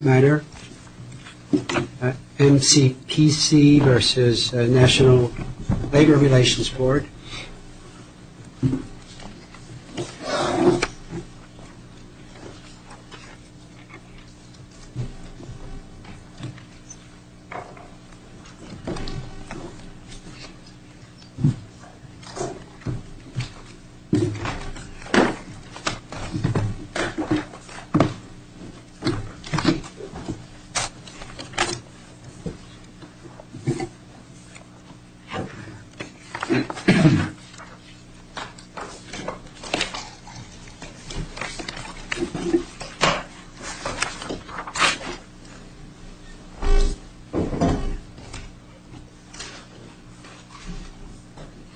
MCPC v. National Labor Relations Board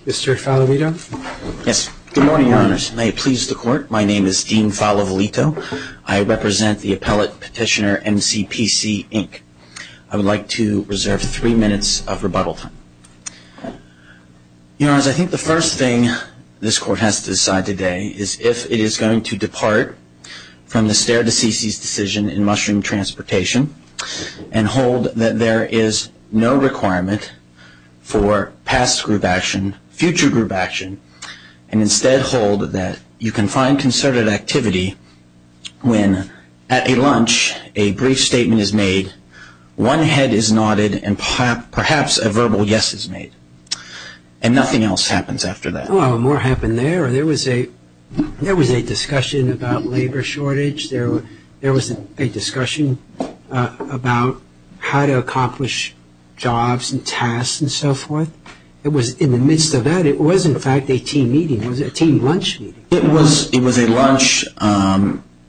Mr. Falovito? Yes. Good morning, Your Honors. May it please the Court, my name is Dean Falovito. I represent the appellate petitioner MCPC Inc. I would like to reserve three minutes of rebuttal time. Your Honors, I think the first thing this Court has to decide today is if it is going to depart from the Stair to Cece's decision in mushroom transportation and hold that there is no requirement for past group action, future group action, and instead hold that you can find concerted activity when at a lunch a brief statement is made, one head is nodded, and perhaps a verbal yes is made, and nothing else happens after that. Well, more happened there. There was a discussion about labor shortage. There was a discussion about how to accomplish jobs and tasks and so forth. It was in the midst of that. It was, in fact, a team meeting. It was a team lunch meeting. It was a lunch.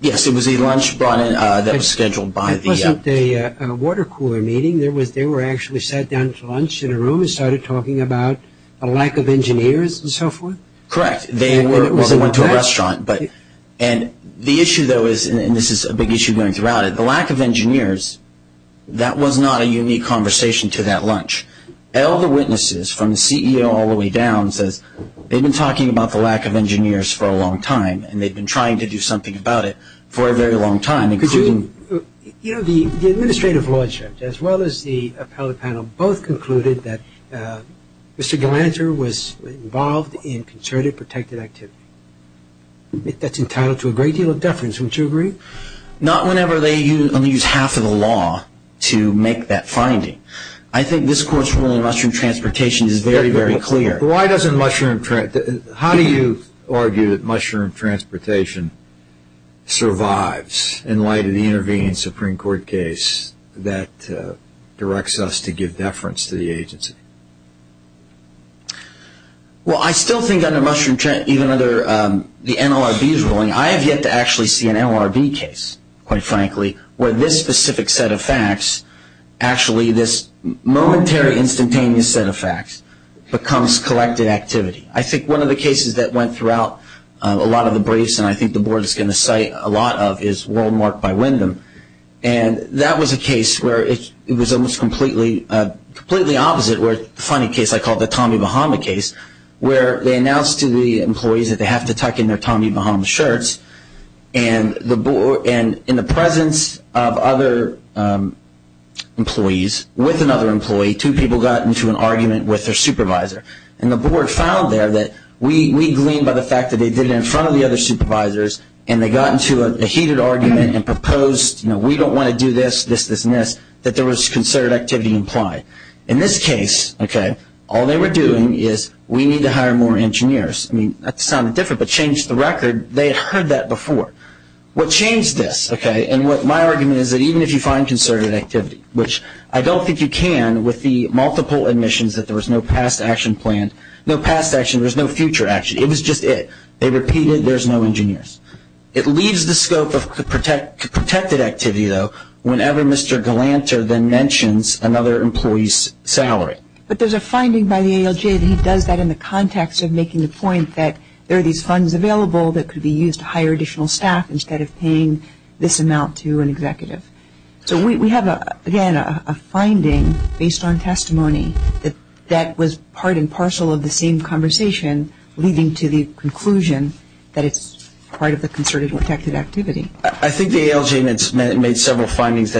Yes, it was a lunch brought in that was scheduled by the... It wasn't a water cooler meeting. They were actually sat down to lunch in a room and started talking about a lack of engineers and so forth? Correct. They went to a restaurant. And the issue, though, is, and this is a big issue going throughout it, the lack of engineers, that was not a unique conversation to that lunch. All the witnesses, from the CEO all the way down, says they've been talking about the lack of engineers for a long time, and they've been trying to do something about it for a very long time, including... You know, the administrative law judge, as well as the appellate panel, both concluded that Mr. Galanter was involved in concerted protected activity. That's entitled to a great deal of deference. Wouldn't you agree? Not whenever they only use half of the law to make that finding. I think this Court's ruling on mushroom transportation is very, very clear. Why doesn't mushroom... How do you argue that mushroom transportation survives in light of the intervening Supreme Court case that directs us to give deference to the agency? Well, I still think under mushroom transportation, even under the NLRB's ruling, I have yet to actually see an NLRB case, quite frankly, where this specific set of facts, actually this momentary instantaneous set of facts, becomes collected activity. I think one of the cases that went throughout a lot of the briefs, and I think the Board is going to cite a lot of, is Worldmark by Wyndham. And that was a case where it was almost completely opposite, where the funny case I call the Tommy Bahama case, where they announced to the employees that they have to tuck in their Tommy Bahama shirts, and in the presence of other employees, with another employee, two people got into an argument with their supervisor. And the Board found there that we gleaned by the fact that they did it in front of the other supervisors, and they got into a heated argument and proposed, you know, we don't want to do this, this, this, and this, that there was concerted activity implied. In this case, okay, all they were doing is we need to hire more engineers. I mean, that sounded different, but changed the record. They had heard that before. What changed this, okay, and what my argument is that even if you find concerted activity, which I don't think you can with the multiple admissions that there was no past action planned, no past action, there was no future action, it was just it. They repeated there's no engineers. It leaves the scope of protected activity, though, whenever Mr. Galanter then mentions another employee's salary. But there's a finding by the ALJ that he does that in the context of making the point that there are these funds available that could be used to hire additional staff instead of paying this amount to an executive. So we have, again, a finding based on testimony that was part and parcel of the same conversation, leading to the conclusion that it's part of the concerted protected activity. I think the ALJ made several findings.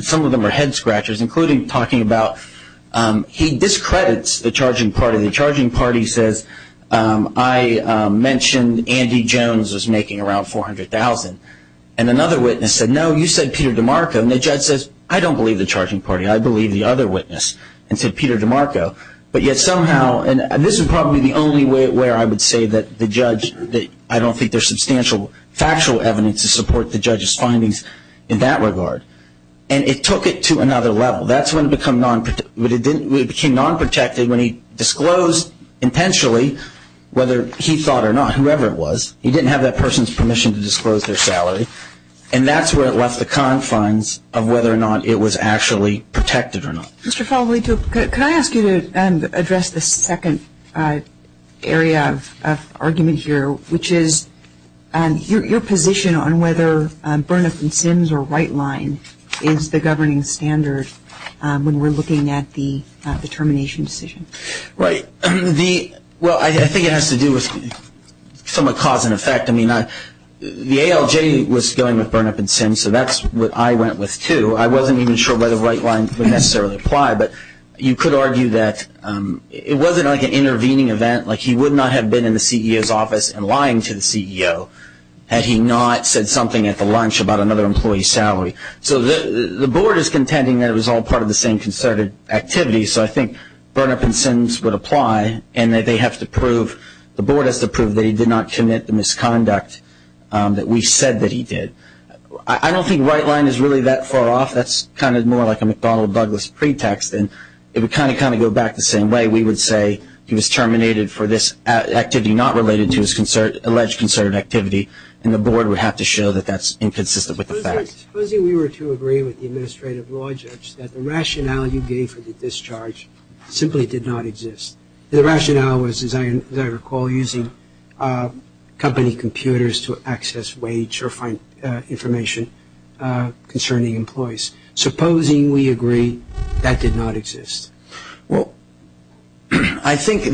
Some of them are head scratchers, including talking about he discredits the charging party. The charging party says, I mentioned Andy Jones was making around $400,000. And another witness said, no, you said Peter DeMarco. And the judge says, I don't believe the charging party. I believe the other witness and said Peter DeMarco. But yet somehow, and this is probably the only way I would say that the judge, I don't think there's substantial factual evidence to support the judge's findings in that regard. And it took it to another level. That's when it became nonprotected when he disclosed intentionally whether he thought or not, whoever it was, he didn't have that person's permission to disclose their salary. And that's where it left the confines of whether or not it was actually protected or not. Mr. Foley, can I ask you to address the second area of argument here, which is your position on whether Burnup and Sims or Rightline is the governing standard when we're looking at the termination decision? Right. Well, I think it has to do with some cause and effect. I mean, the ALJ was going with Burnup and Sims, so that's what I went with, too. I wasn't even sure whether Rightline would necessarily apply. But you could argue that it wasn't like an intervening event. Like, he would not have been in the CEO's office and lying to the CEO had he not said something at the lunch about another employee's salary. So the board is contending that it was all part of the same concerted activity, so I think Burnup and Sims would apply and that they have to prove, the board has to prove that he did not commit the misconduct that we said that he did. I don't think Rightline is really that far off. That's kind of more like a McDonnell Douglas pretext, and it would kind of go back the same way. We would say he was terminated for this activity not related to his alleged concerted activity, and the board would have to show that that's inconsistent with the facts. Supposing we were to agree with the administrative law judge that the rationale you gave for the discharge simply did not exist. The rationale was, as I recall, using company computers to access wage or find information concerning employees. Supposing we agree that did not exist. Well, I think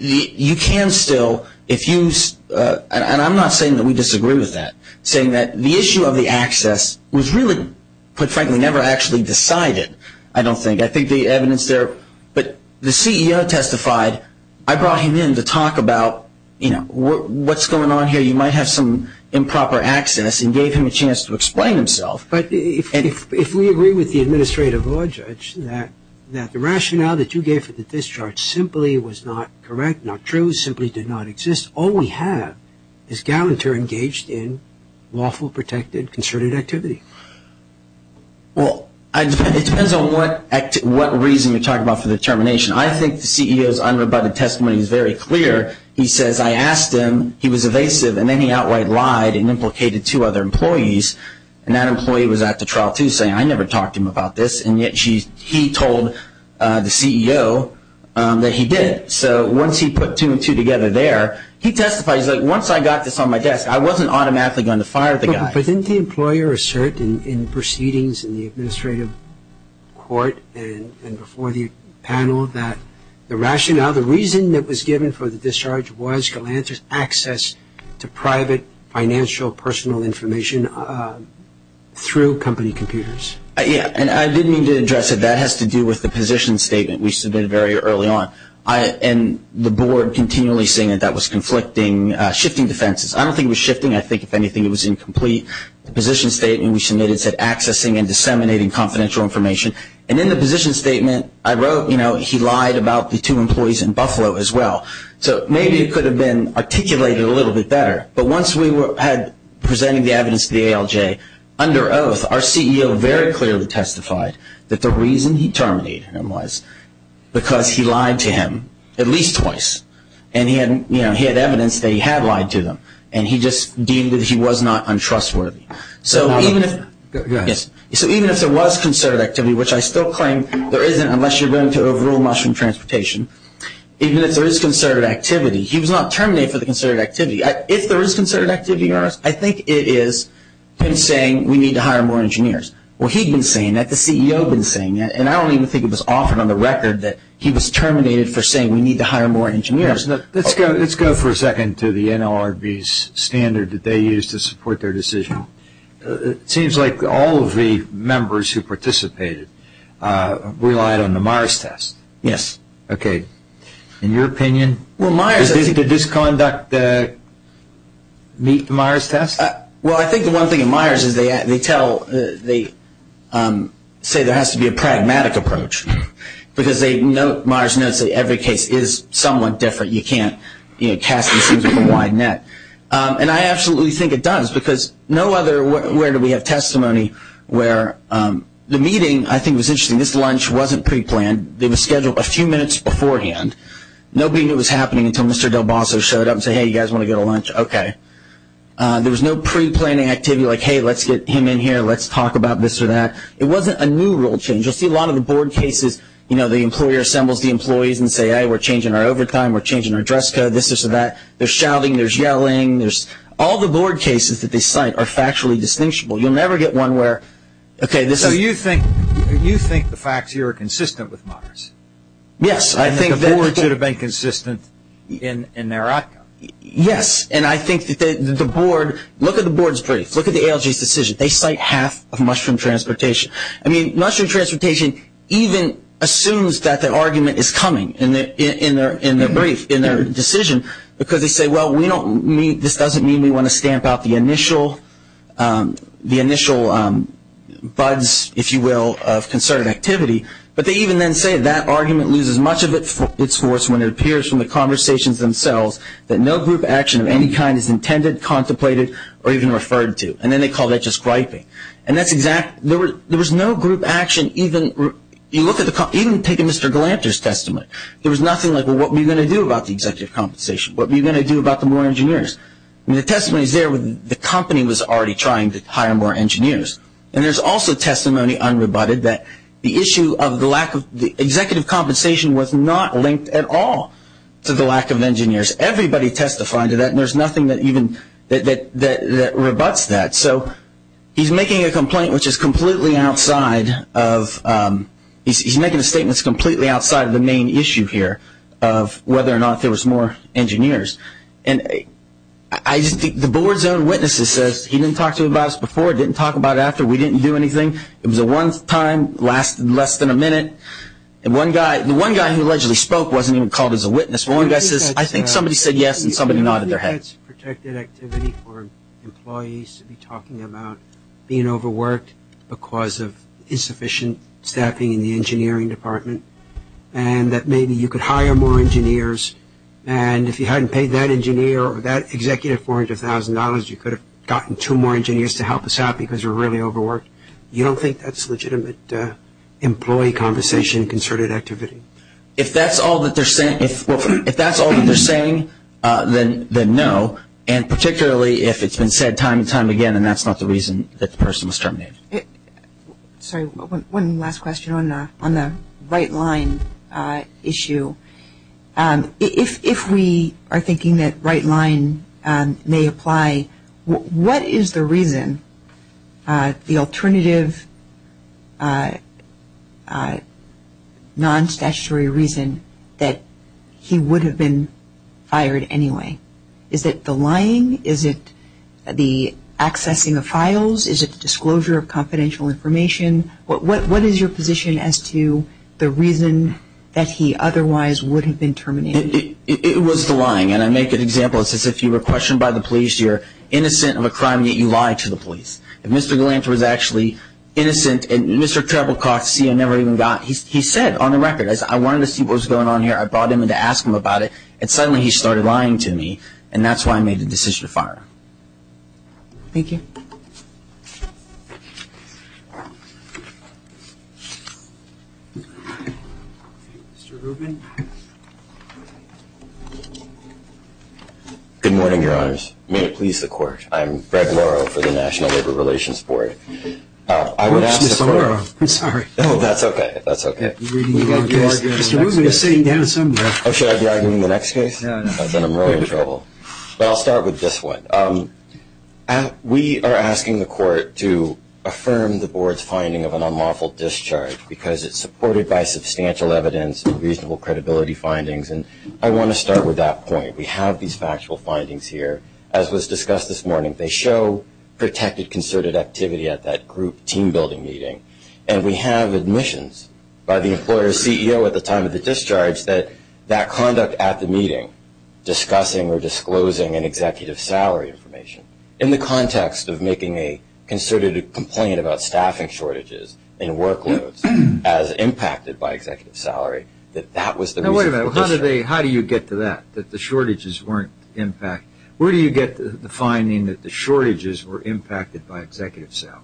you can still, and I'm not saying that we disagree with that, saying that the issue of the access was really, put frankly, never actually decided, I don't think. I think the evidence there, but the CEO testified. I brought him in to talk about, you know, what's going on here. You might have some improper access and gave him a chance to explain himself. But if we agree with the administrative law judge that the rationale that you gave for the discharge simply was not correct, not true, simply did not exist, all we have is Gallanter engaged in lawful, protected, concerted activity. Well, it depends on what reason you're talking about for the termination. I think the CEO's unrebutted testimony is very clear. He says, I asked him, he was evasive, and then he outright lied and implicated two other employees, and that employee was at the trial, too, saying, I never talked to him about this, and yet he told the CEO that he did. So once he put two and two together there, he testified. He's like, once I got this on my desk, I wasn't automatically going to fire the guy. But didn't the employer assert in proceedings in the administrative court and before the panel that the rationale, the reason that was given for the discharge was Gallanter's access to private, financial, personal information through company computers? Yeah, and I didn't mean to address it. That has to do with the position statement we submitted very early on, and the board continually saying that that was conflicting, shifting defenses. I don't think it was shifting. I think, if anything, it was incomplete. The position statement we submitted said accessing and disseminating confidential information, and in the position statement I wrote, you know, he lied about the two employees in Buffalo as well. So maybe it could have been articulated a little bit better. But once we were presenting the evidence to the ALJ, under oath, our CEO very clearly testified that the reason he terminated him was because he lied to him at least twice, and he had evidence that he had lied to them, and he just deemed that he was not untrustworthy. So even if there was concerted activity, which I still claim there isn't unless you're willing to overrule mushroom transportation, even if there is concerted activity, he was not terminated for the concerted activity. If there is concerted activity, I think it is him saying we need to hire more engineers. Well, he'd been saying that, the CEO had been saying that, and I don't even think it was offered on the record that he was terminated for saying we need to hire more engineers. Let's go for a second to the NLRB's standard that they used to support their decision. It seems like all of the members who participated relied on the Myers test. Yes. Okay. In your opinion, did the disconduct meet the Myers test? Well, I think the one thing in Myers is they say there has to be a pragmatic approach, because Myers notes that every case is somewhat different. You can't cast these things with a wide net, and I absolutely think it does, because no other where do we have testimony where the meeting, I think, was interesting. This lunch wasn't preplanned. It was scheduled a few minutes beforehand. Nobody knew it was happening until Mr. Del Bosso showed up and said, hey, you guys want to go to lunch? Okay. There was no preplanning activity like, hey, let's get him in here, let's talk about this or that. It wasn't a new rule change. You'll see a lot of the board cases, you know, the employer assembles the employees and says, hey, we're changing our overtime, we're changing our dress code, this or that. There's shouting. There's yelling. All the board cases that they cite are factually distinguishable. You'll never get one where, okay, this is. So you think the facts here are consistent with Myers? Yes. I think the board should have been consistent in their outcome. Yes. And I think that the board, look at the board's brief. Look at the ALJ's decision. They cite half of mushroom transportation. I mean, mushroom transportation even assumes that the argument is coming in their brief, in their decision, because they say, well, this doesn't mean we want to stamp out the initial buds, if you will, of concerted activity. But they even then say that argument loses much of its force when it appears from the conversations themselves that no group action of any kind is intended, contemplated, or even referred to. And then they call that just griping. And that's exactly – there was no group action even – you look at the – even take a Mr. Galanter's testimony. There was nothing like, well, what are we going to do about the executive compensation? What are we going to do about the more engineers? I mean, the testimony is there when the company was already trying to hire more engineers. And there's also testimony unrebutted that the issue of the lack of – executive compensation was not linked at all to the lack of engineers. Everybody testified to that, and there's nothing that even – that rebuts that. So he's making a complaint which is completely outside of – he's making a statement that's completely outside of the main issue here of whether or not there was more engineers. And I just think the board's own witnesses says he didn't talk to us about it before, didn't talk about it after, we didn't do anything. It was a one-time, less than a minute. And one guy – the one guy who allegedly spoke wasn't even called as a witness. The one guy says, I think somebody said yes, and somebody nodded their head. I think that's protected activity for employees to be talking about being overworked because of insufficient staffing in the engineering department, and that maybe you could hire more engineers. And if you hadn't paid that engineer or that executive $400,000, you could have gotten two more engineers to help us out because you're really overworked. You don't think that's legitimate employee conversation, concerted activity? If that's all that they're saying, then no, and particularly if it's been said time and time again and that's not the reason that the person was terminated. Sorry, one last question on the right line issue. If we are thinking that right line may apply, what is the reason, the alternative non-statutory reason that he would have been fired anyway? Is it the lying? Is it the accessing of files? Is it the disclosure of confidential information? What is your position as to the reason that he otherwise would have been terminated? It was the lying, and I make an example. It's as if you were questioned by the police. You're innocent of a crime, yet you lied to the police. If Mr. Gallant was actually innocent and Mr. Treblecock, the CIO, never even got, he said on the record, I wanted to see what was going on here. I brought him in to ask him about it, and suddenly he started lying to me, and that's why I made the decision to fire him. Thank you. Mr. Rubin. Good morning, Your Honors. May it please the Court. I'm Greg Morrow for the National Labor Relations Board. I would ask the Court. I'm sorry. No, that's okay. That's okay. Mr. Rubin is sitting down somewhere. Should I be arguing the next case? No, no. Then I'm really in trouble. But I'll start with this one. We are asking the Court to affirm the Board's finding of an unlawful discharge because it's supported by substantial evidence and reasonable credibility findings, and I want to start with that point. We have these factual findings here, as was discussed this morning. They show protected concerted activity at that group team-building meeting, and we have admissions by the employer's CEO at the time of the discharge that that conduct at the meeting, discussing or disclosing an executive salary information. In the context of making a concerted complaint about staffing shortages and workloads as impacted by executive salary, that that was the reason for the discharge. Now, wait a minute. How do you get to that, that the shortages weren't impacted? Where do you get the finding that the shortages were impacted by executive salary?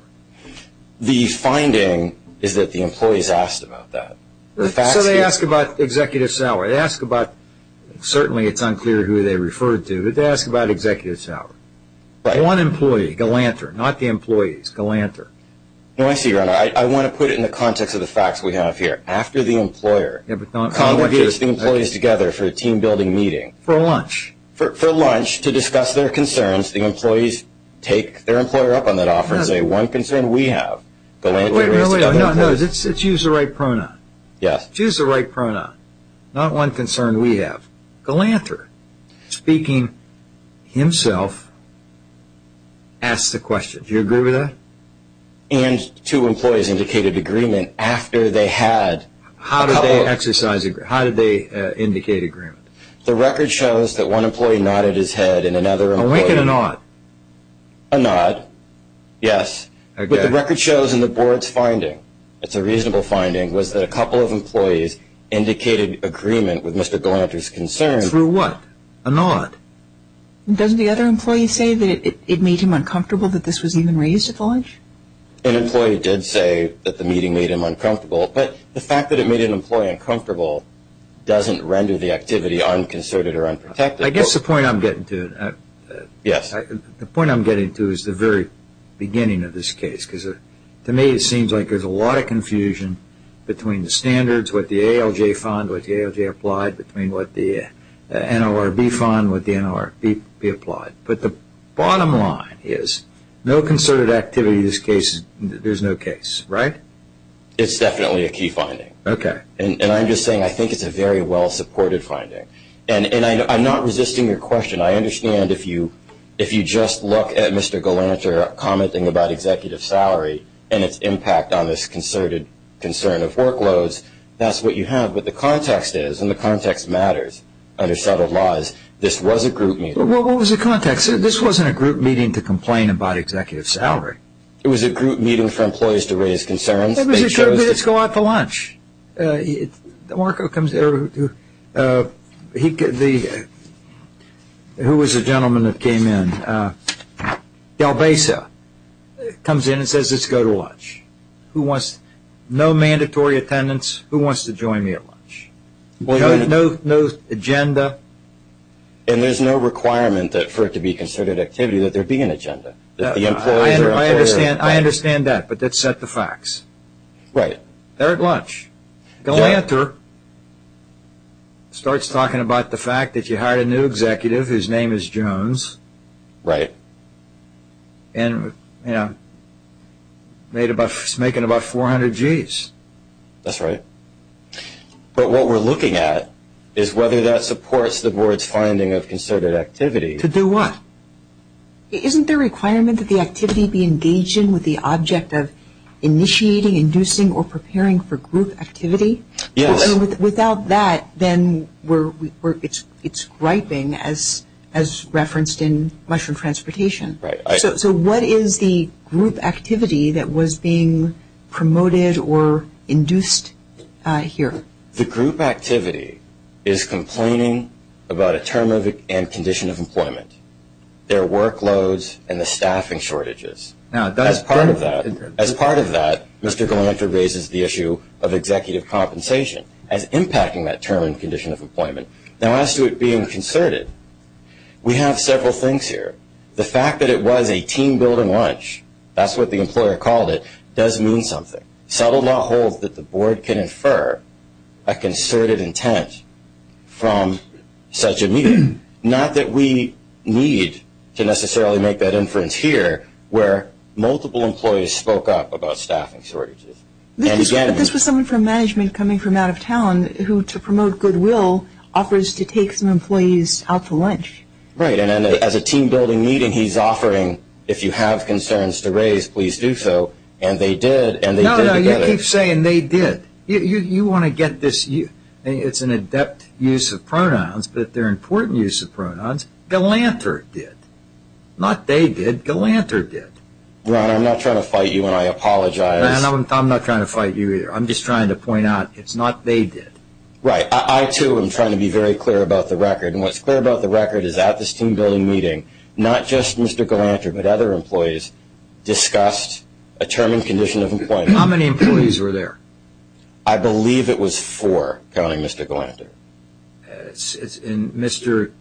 The finding is that the employees asked about that. So they asked about executive salary. They asked about, certainly it's unclear who they referred to, but they asked about executive salary. One employee, Galanter, not the employees, Galanter. No, I see, Your Honor. I want to put it in the context of the facts we have here. After the employer congregates the employees together for a team-building meeting. For lunch. For lunch, to discuss their concerns, the employees take their employer up on that offer and say, one concern we have, Galanter raises the other employees. No, no, no. It's use the right pronoun. Yes. Use the right pronoun. Not one concern we have. Galanter, speaking himself, asks the question. Do you agree with that? And two employees indicated agreement after they had. How did they indicate agreement? The record shows that one employee nodded his head and another employee. A wink and a nod. A nod, yes. But the record shows in the board's finding, it's a reasonable finding, was that a couple of employees indicated agreement with Mr. Galanter's concern. Through what? A nod. Doesn't the other employee say that it made him uncomfortable that this was even raised at lunch? An employee did say that the meeting made him uncomfortable. But the fact that it made an employee uncomfortable doesn't render the activity unconcerted or unprotected. I guess the point I'm getting to. Yes. The point I'm getting to is the very beginning of this case. Because to me it seems like there's a lot of confusion between the standards, what the ALJ found, what the ALJ applied, between what the NLRB found and what the NLRB applied. But the bottom line is no concerted activity in this case. There's no case, right? It's definitely a key finding. Okay. And I'm just saying I think it's a very well-supported finding. And I'm not resisting your question. I understand if you just look at Mr. Galanter commenting about executive salary and its impact on this concerted concern of workloads, that's what you have. But the context is, and the context matters under settled laws, this was a group meeting. Well, what was the context? This wasn't a group meeting to complain about executive salary. It was a group meeting for employees to raise concerns. It was a group meeting to go out to lunch. Marco comes in. Who was the gentleman that came in? Galbaza comes in and says, let's go to lunch. No mandatory attendance. Who wants to join me at lunch? No agenda. And there's no requirement for it to be concerted activity that there be an agenda. I understand that, but that's set to facts. Right. They're at lunch. Galanter starts talking about the fact that you hired a new executive whose name is Jones. Right. And, you know, he's making about 400 Gs. That's right. But what we're looking at is whether that supports the board's finding of concerted activity. To do what? Isn't there a requirement that the activity be engaged in with the object of initiating, inducing, or preparing for group activity? Yes. Without that, then it's griping, as referenced in Mushroom Transportation. Right. So what is the group activity that was being promoted or induced here? The group activity is complaining about a term and condition of employment, their workloads, and the staffing shortages. As part of that, Mr. Galanter raises the issue of executive compensation as impacting that term and condition of employment. Now, as to it being concerted, we have several things here. The fact that it was a team-building lunch, that's what the employer called it, does mean something. Subtle law holds that the board can infer a concerted intent from such a meeting. Not that we need to necessarily make that inference here, where multiple employees spoke up about staffing shortages. This was someone from management coming from out of town who, to promote goodwill, offers to take some employees out to lunch. Right. And as a team-building meeting, he's offering, if you have concerns to raise, please do so. And they did. No, no, you keep saying they did. You want to get this. It's an adept use of pronouns, but they're important use of pronouns. Galanter did. Not they did. Galanter did. Ron, I'm not trying to fight you, and I apologize. Ron, I'm not trying to fight you either. I'm just trying to point out it's not they did. Right. I, too, am trying to be very clear about the record. And what's clear about the record is at this team-building meeting, not just Mr. Galanter, but other employees discussed a term and condition of employment. How many employees were there? I believe it was four, counting Mr. Galanter. And Mr.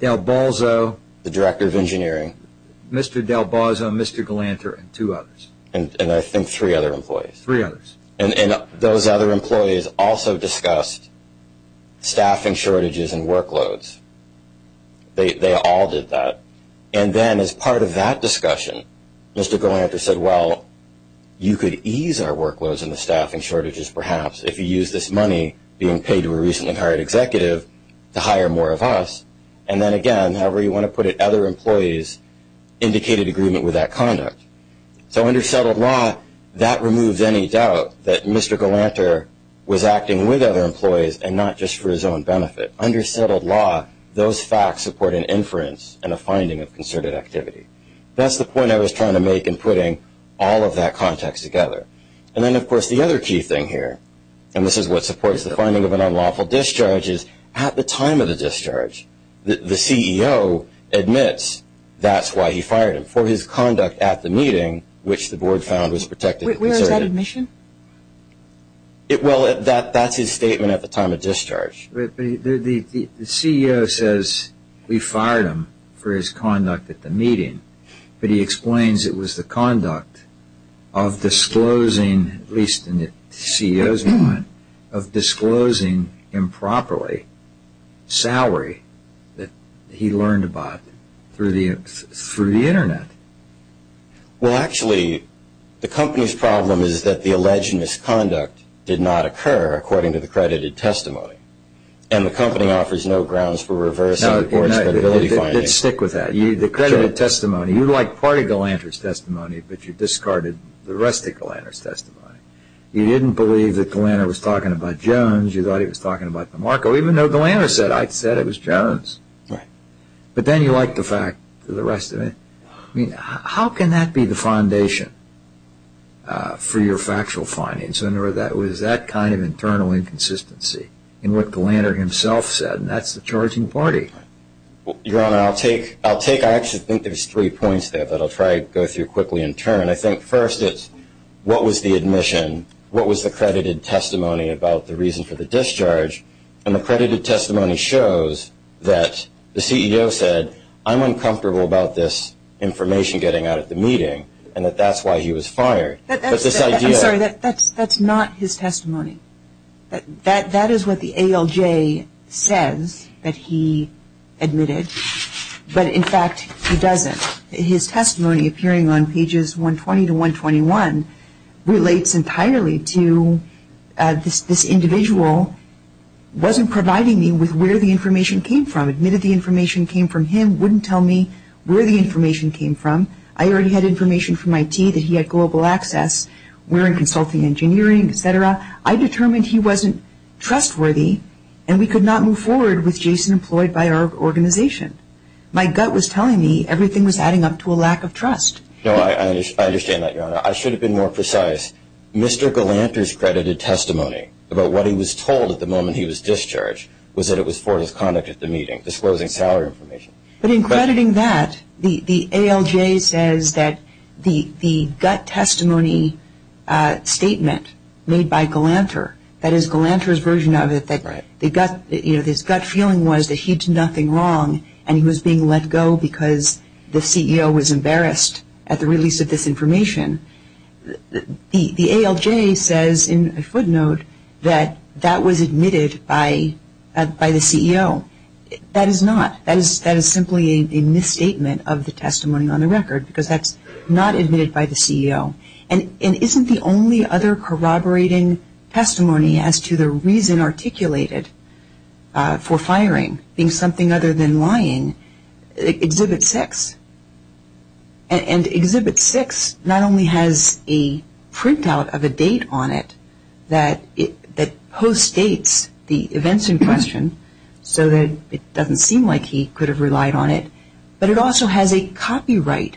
Del Balzo. The director of engineering. Mr. Del Balzo, Mr. Galanter, and two others. And I think three other employees. Three others. And those other employees also discussed staffing shortages and workloads. They all did that. And then as part of that discussion, Mr. Galanter said, well, you could ease our workloads and the staffing shortages perhaps if you use this money being paid to a recently hired executive to hire more of us. And then, again, however you want to put it, other employees indicated agreement with that conduct. So under settled law, that removes any doubt that Mr. Galanter was acting with other employees and not just for his own benefit. Under settled law, those facts support an inference and a finding of concerted activity. That's the point I was trying to make in putting all of that context together. And then, of course, the other key thing here, and this is what supports the finding of an unlawful discharge, is at the time of the discharge, the CEO admits that's why he fired him for his conduct at the meeting, which the board found was protected. Where is that admission? Well, that's his statement at the time of discharge. But the CEO says he fired him for his conduct at the meeting, but he explains it was the conduct of disclosing, at least in the CEO's mind, of disclosing improperly salary that he learned about through the Internet. Well, actually, the company's problem is that the alleged misconduct did not occur, according to the credited testimony, and the company offers no grounds for reversing the board's credibility findings. Now, stick with that. The credited testimony, you like part of Galanter's testimony, but you discarded the rest of Galanter's testimony. You didn't believe that Galanter was talking about Jones. You thought he was talking about DeMarco, even though Galanter said, I said it was Jones. Right. But then you like the rest of it. I mean, how can that be the foundation for your factual findings? It was that kind of internal inconsistency in what Galanter himself said, and that's the charging party. Your Honor, I'll take – I actually think there's three points there that I'll try to go through quickly in turn. I think first it's what was the admission, what was the credited testimony about the reason for the discharge, and the credited testimony shows that the CEO said, I'm uncomfortable about this information getting out at the meeting, and that that's why he was fired. I'm sorry, that's not his testimony. That is what the ALJ says that he admitted, but in fact he doesn't. His testimony appearing on pages 120 to 121 relates entirely to this individual wasn't providing me with where the information came from, admitted the information came from him, wouldn't tell me where the information came from. I already had information from IT that he had global access. We're in consulting engineering, et cetera. I determined he wasn't trustworthy, and we could not move forward with Jason employed by our organization. My gut was telling me everything was adding up to a lack of trust. No, I understand that, Your Honor. I should have been more precise. Mr. Galanter's credited testimony about what he was told at the moment he was discharged was that it was for his conduct at the meeting, disclosing salary information. But in crediting that, the ALJ says that the gut testimony statement made by Galanter, that is Galanter's version of it, that his gut feeling was that he did nothing wrong and he was being let go because the CEO was embarrassed at the release of this information. The ALJ says in a footnote that that was admitted by the CEO. That is not. That is simply a misstatement of the testimony on the record because that's not admitted by the CEO. And isn't the only other corroborating testimony as to the reason articulated for firing, being something other than lying, Exhibit 6? And Exhibit 6 not only has a printout of a date on it that postdates the events in question so that it doesn't seem like he could have relied on it, but it also has a copyright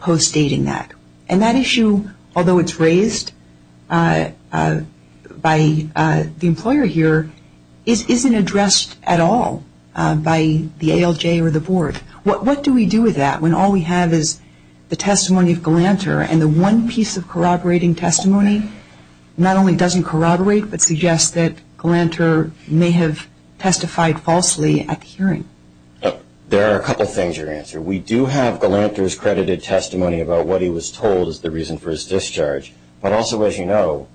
postdating that. And that issue, although it's raised by the employer here, isn't addressed at all by the ALJ or the Board. What do we do with that when all we have is the testimony of Galanter and the one piece of corroborating testimony not only doesn't corroborate but suggests that Galanter may have testified falsely at the hearing? There are a couple of things you can answer. We do have Galanter's credited testimony about what he was told is the reason for his discharge. But also, as you know,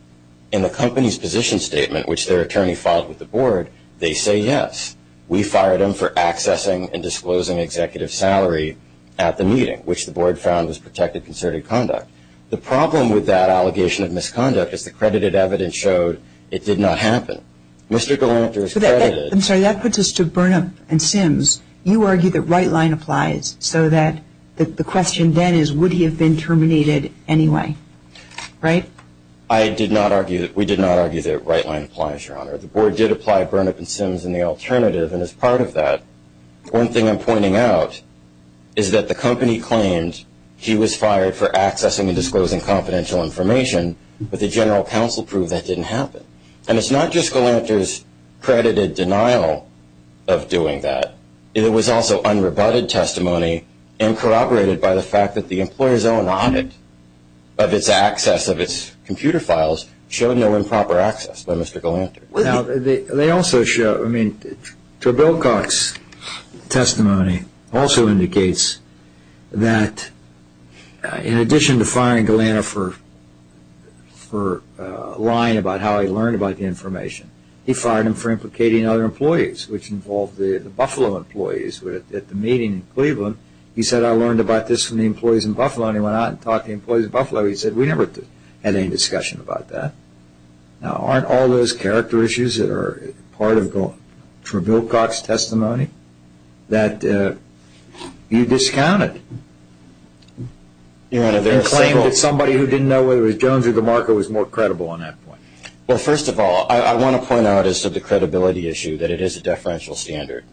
in the company's position statement, which their attorney filed with the Board, they say, yes, we fired him for accessing and disclosing executive salary at the meeting, which the Board found was protected concerted conduct. The problem with that allegation of misconduct is the credited evidence showed it did not happen. Mr. Galanter is credited. I'm sorry, that puts us to Burnup and Sims. You argue that right line applies so that the question then is would he have been terminated anyway, right? I did not argue that. We did not argue that right line applies, Your Honor. The Board did apply Burnup and Sims in the alternative, and as part of that, one thing I'm pointing out is that the company claimed he was fired for accessing and disclosing confidential information, but the general counsel proved that didn't happen. And it's not just Galanter's credited denial of doing that. It was also unrebutted testimony and corroborated by the fact that the employer's own audit of its access, of its computer files, showed no improper access by Mr. Galanter. They also show, I mean, Bill Cox's testimony also indicates that in addition to firing Galanter for lying about how he learned about the information, he fired him for implicating other employees, which involved the Buffalo employees at the meeting in Cleveland. He said, I learned about this from the employees in Buffalo, and he went out and talked to the employees in Buffalo. He said, we never had any discussion about that. Now, aren't all those character issues that are part of Bill Cox's testimony that you discounted? Your Honor, they're saying that somebody who didn't know whether it was Jones or DeMarco was more credible on that point. Well, first of all, I want to point out as to the credibility issue that it is a deferential standard.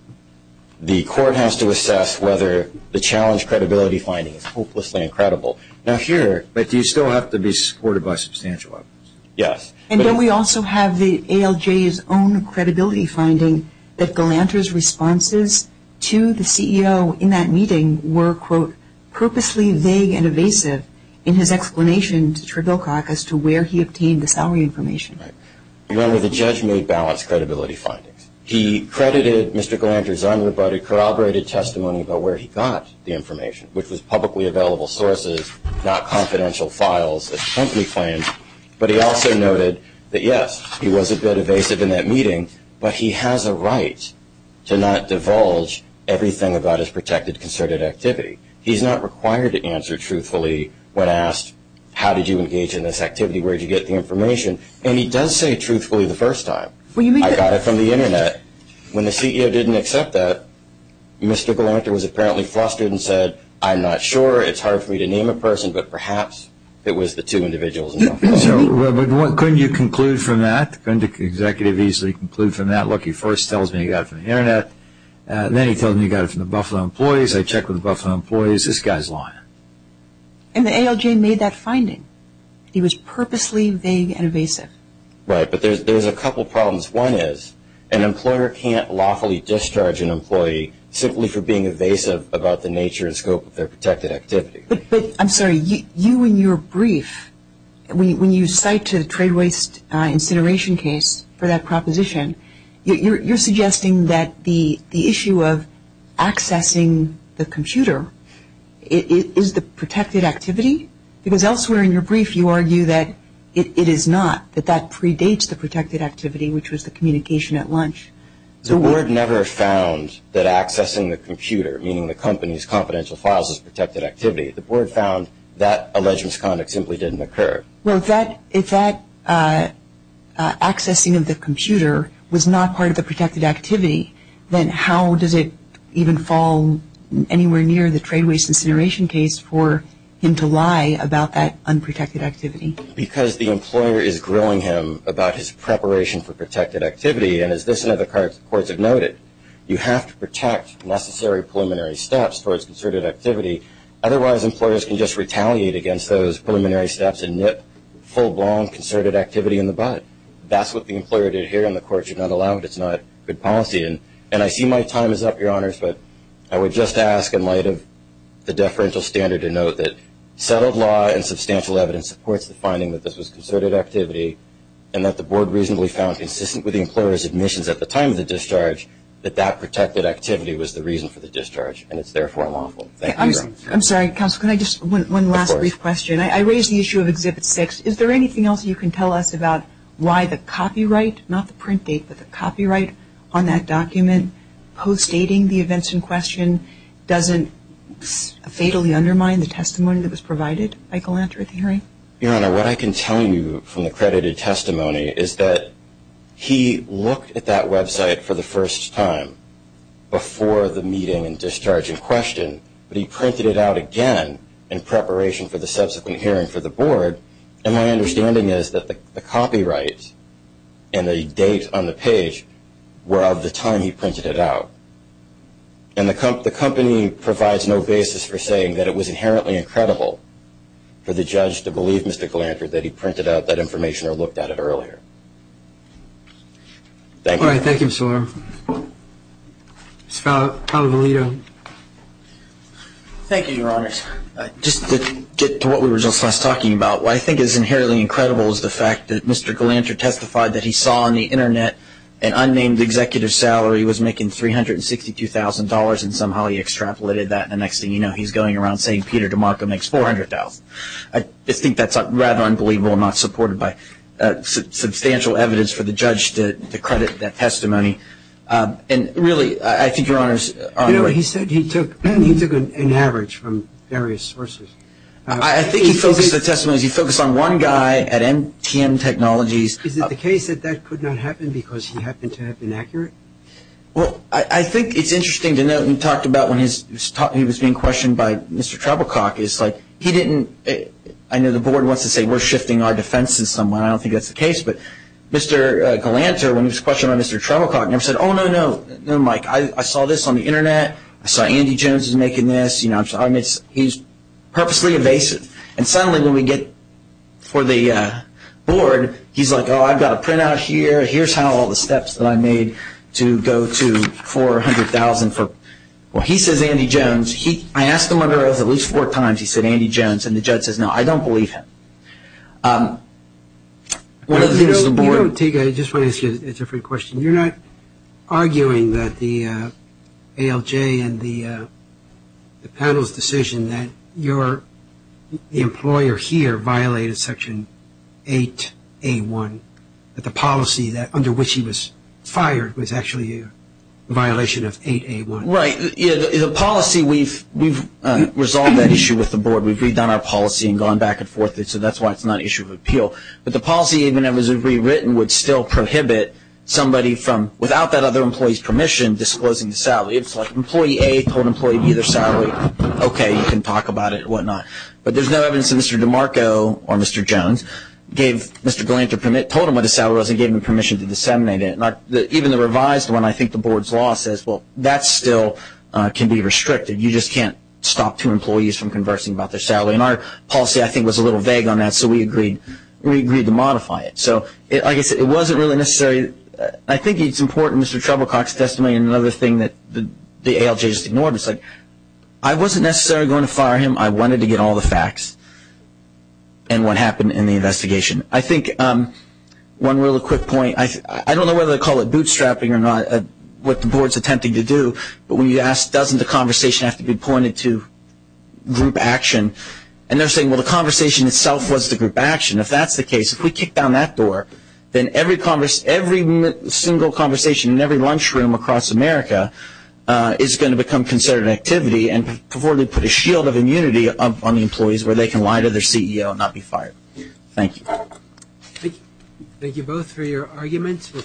The court has to assess whether the challenge credibility finding is hopelessly incredible. Now, here, but you still have to be supported by substantial evidence. Yes. And then we also have the ALJ's own credibility finding that Galanter's responses to the CEO in that meeting were, quote, purposely vague and evasive in his explanation to Bill Cox as to where he obtained the salary information. Your Honor, the judge made balanced credibility findings. He credited Mr. Galanter's honor, but he corroborated testimony about where he got the information, which was publicly available sources, not confidential files that the company claimed. But he also noted that, yes, he was a bit evasive in that meeting, but he has a right to not divulge everything about his protected concerted activity. He's not required to answer truthfully when asked, how did you engage in this activity? Where did you get the information? And he does say truthfully the first time. I got it from the Internet. When the CEO didn't accept that, Mr. Galanter was apparently flustered and said, I'm not sure, it's hard for me to name a person, but perhaps it was the two individuals. Couldn't you conclude from that? Couldn't the executive easily conclude from that? Look, he first tells me he got it from the Internet, then he tells me he got it from the Buffalo employees. I checked with the Buffalo employees. This guy's lying. And the ALJ made that finding. He was purposely vague and evasive. Right, but there's a couple problems. One is an employer can't lawfully discharge an employee simply for being evasive about the nature and scope of their protected activity. But, I'm sorry, you in your brief, when you cite the trade waste incineration case for that proposition, you're suggesting that the issue of accessing the computer is the protected activity? Because elsewhere in your brief you argue that it is not, that that predates the protected activity, which was the communication at lunch. The board never found that accessing the computer, meaning the company's confidential files, is protected activity. The board found that alleged misconduct simply didn't occur. Well, if that accessing of the computer was not part of the protected activity, then how does it even fall anywhere near the trade waste incineration case for him to lie about that unprotected activity? Because the employer is grilling him about his preparation for protected activity, and as this and other courts have noted, you have to protect necessary preliminary steps towards concerted activity. Otherwise, employers can just retaliate against those preliminary steps and nip full-blown concerted activity in the bud. That's what the employer did here, and the court should not allow it. It's not good policy. And I see my time is up, Your Honors, but I would just ask in light of the deferential standard to note that settled law and substantial evidence supports the finding that this was concerted activity and that the board reasonably found, consistent with the employer's admissions at the time of the discharge, that that protected activity was the reason for the discharge, and it's therefore lawful. Thank you, Your Honors. I'm sorry, Counselor, can I just one last brief question? Of course. I raised the issue of Exhibit 6. Is there anything else you can tell us about why the copyright, not the print date, but the copyright on that document post-dating the events in question doesn't fatally undermine the testimony that was provided by Galanter at the hearing? Your Honor, what I can tell you from the credited testimony is that he looked at that website for the first time before the meeting and discharge in question, but he printed it out again in preparation for the subsequent hearing for the board, and my understanding is that the copyright and the date on the page were of the time he printed it out. And the company provides no basis for saying that it was inherently incredible for the judge to believe, Mr. Galanter, that he printed out that information or looked at it earlier. Thank you. All right. Thank you, Mr. Warren. Mr. Cavalito. Thank you, Your Honors. Just to get to what we were just last talking about, what I think is inherently incredible is the fact that Mr. Galanter testified that he saw on the Internet that an unnamed executive salary was making $362,000, and somehow he extrapolated that, and the next thing you know he's going around saying Peter DeMarco makes $400,000. I just think that's rather unbelievable and not supported by substantial evidence for the judge to credit that testimony. And really, I think Your Honors are on the right track. You know, he said he took an average from various sources. I think he focused the testimony, he focused on one guy at MTM Technologies. Is it the case that that could not happen because he happened to have been accurate? Well, I think it's interesting to note, we talked about when he was being questioned by Mr. Treblecock, he didn't, I know the board wants to say we're shifting our defenses somewhere, I don't think that's the case, but Mr. Galanter, when he was questioned by Mr. Treblecock, never said, oh, no, no, no, Mike, I saw this on the Internet, I saw Andy Jones is making this, you know, he's purposely evasive. And suddenly when we get for the board, he's like, oh, I've got a printout here, here's how all the steps that I made to go to $400,000. Well, he says Andy Jones. I asked him under oath at least four times, he said Andy Jones. And the judge says, no, I don't believe him. You know, Teague, I just want to ask you a different question. You're not arguing that the ALJ and the panel's decision that your employer here violated Section 8A1, that the policy under which he was fired was actually a violation of 8A1? Right. The policy, we've resolved that issue with the board. We've redone our policy and gone back and forth, so that's why it's not an issue of appeal. But the policy, even though it was rewritten, would still prohibit somebody from, without that other employee's permission, disclosing the salary. It's like employee A told employee B their salary, okay, you can talk about it and whatnot. But there's no evidence that Mr. DeMarco or Mr. Jones gave Mr. Gallant a permit, told him what his salary was and gave him permission to disseminate it. Even the revised one, I think the board's law says, well, that still can be restricted. You just can't stop two employees from conversing about their salary. And our policy, I think, was a little vague on that, so we agreed to modify it. So, like I said, it wasn't really necessary. I think it's important, Mr. Treblecock's testimony and another thing that the ALJ just ignored, it's like I wasn't necessarily going to fire him. I wanted to get all the facts and what happened in the investigation. I think one real quick point, I don't know whether to call it bootstrapping or not, what the board's attempting to do, but when you ask doesn't the conversation have to be pointed to group action, and they're saying, well, the conversation itself was the group action. If that's the case, if we kick down that door, then every single conversation in every lunchroom across America is going to become considered an activity before they put a shield of immunity up on the employees where they can lie to their CEO and not be fired. Thank you. Thank you both for your arguments.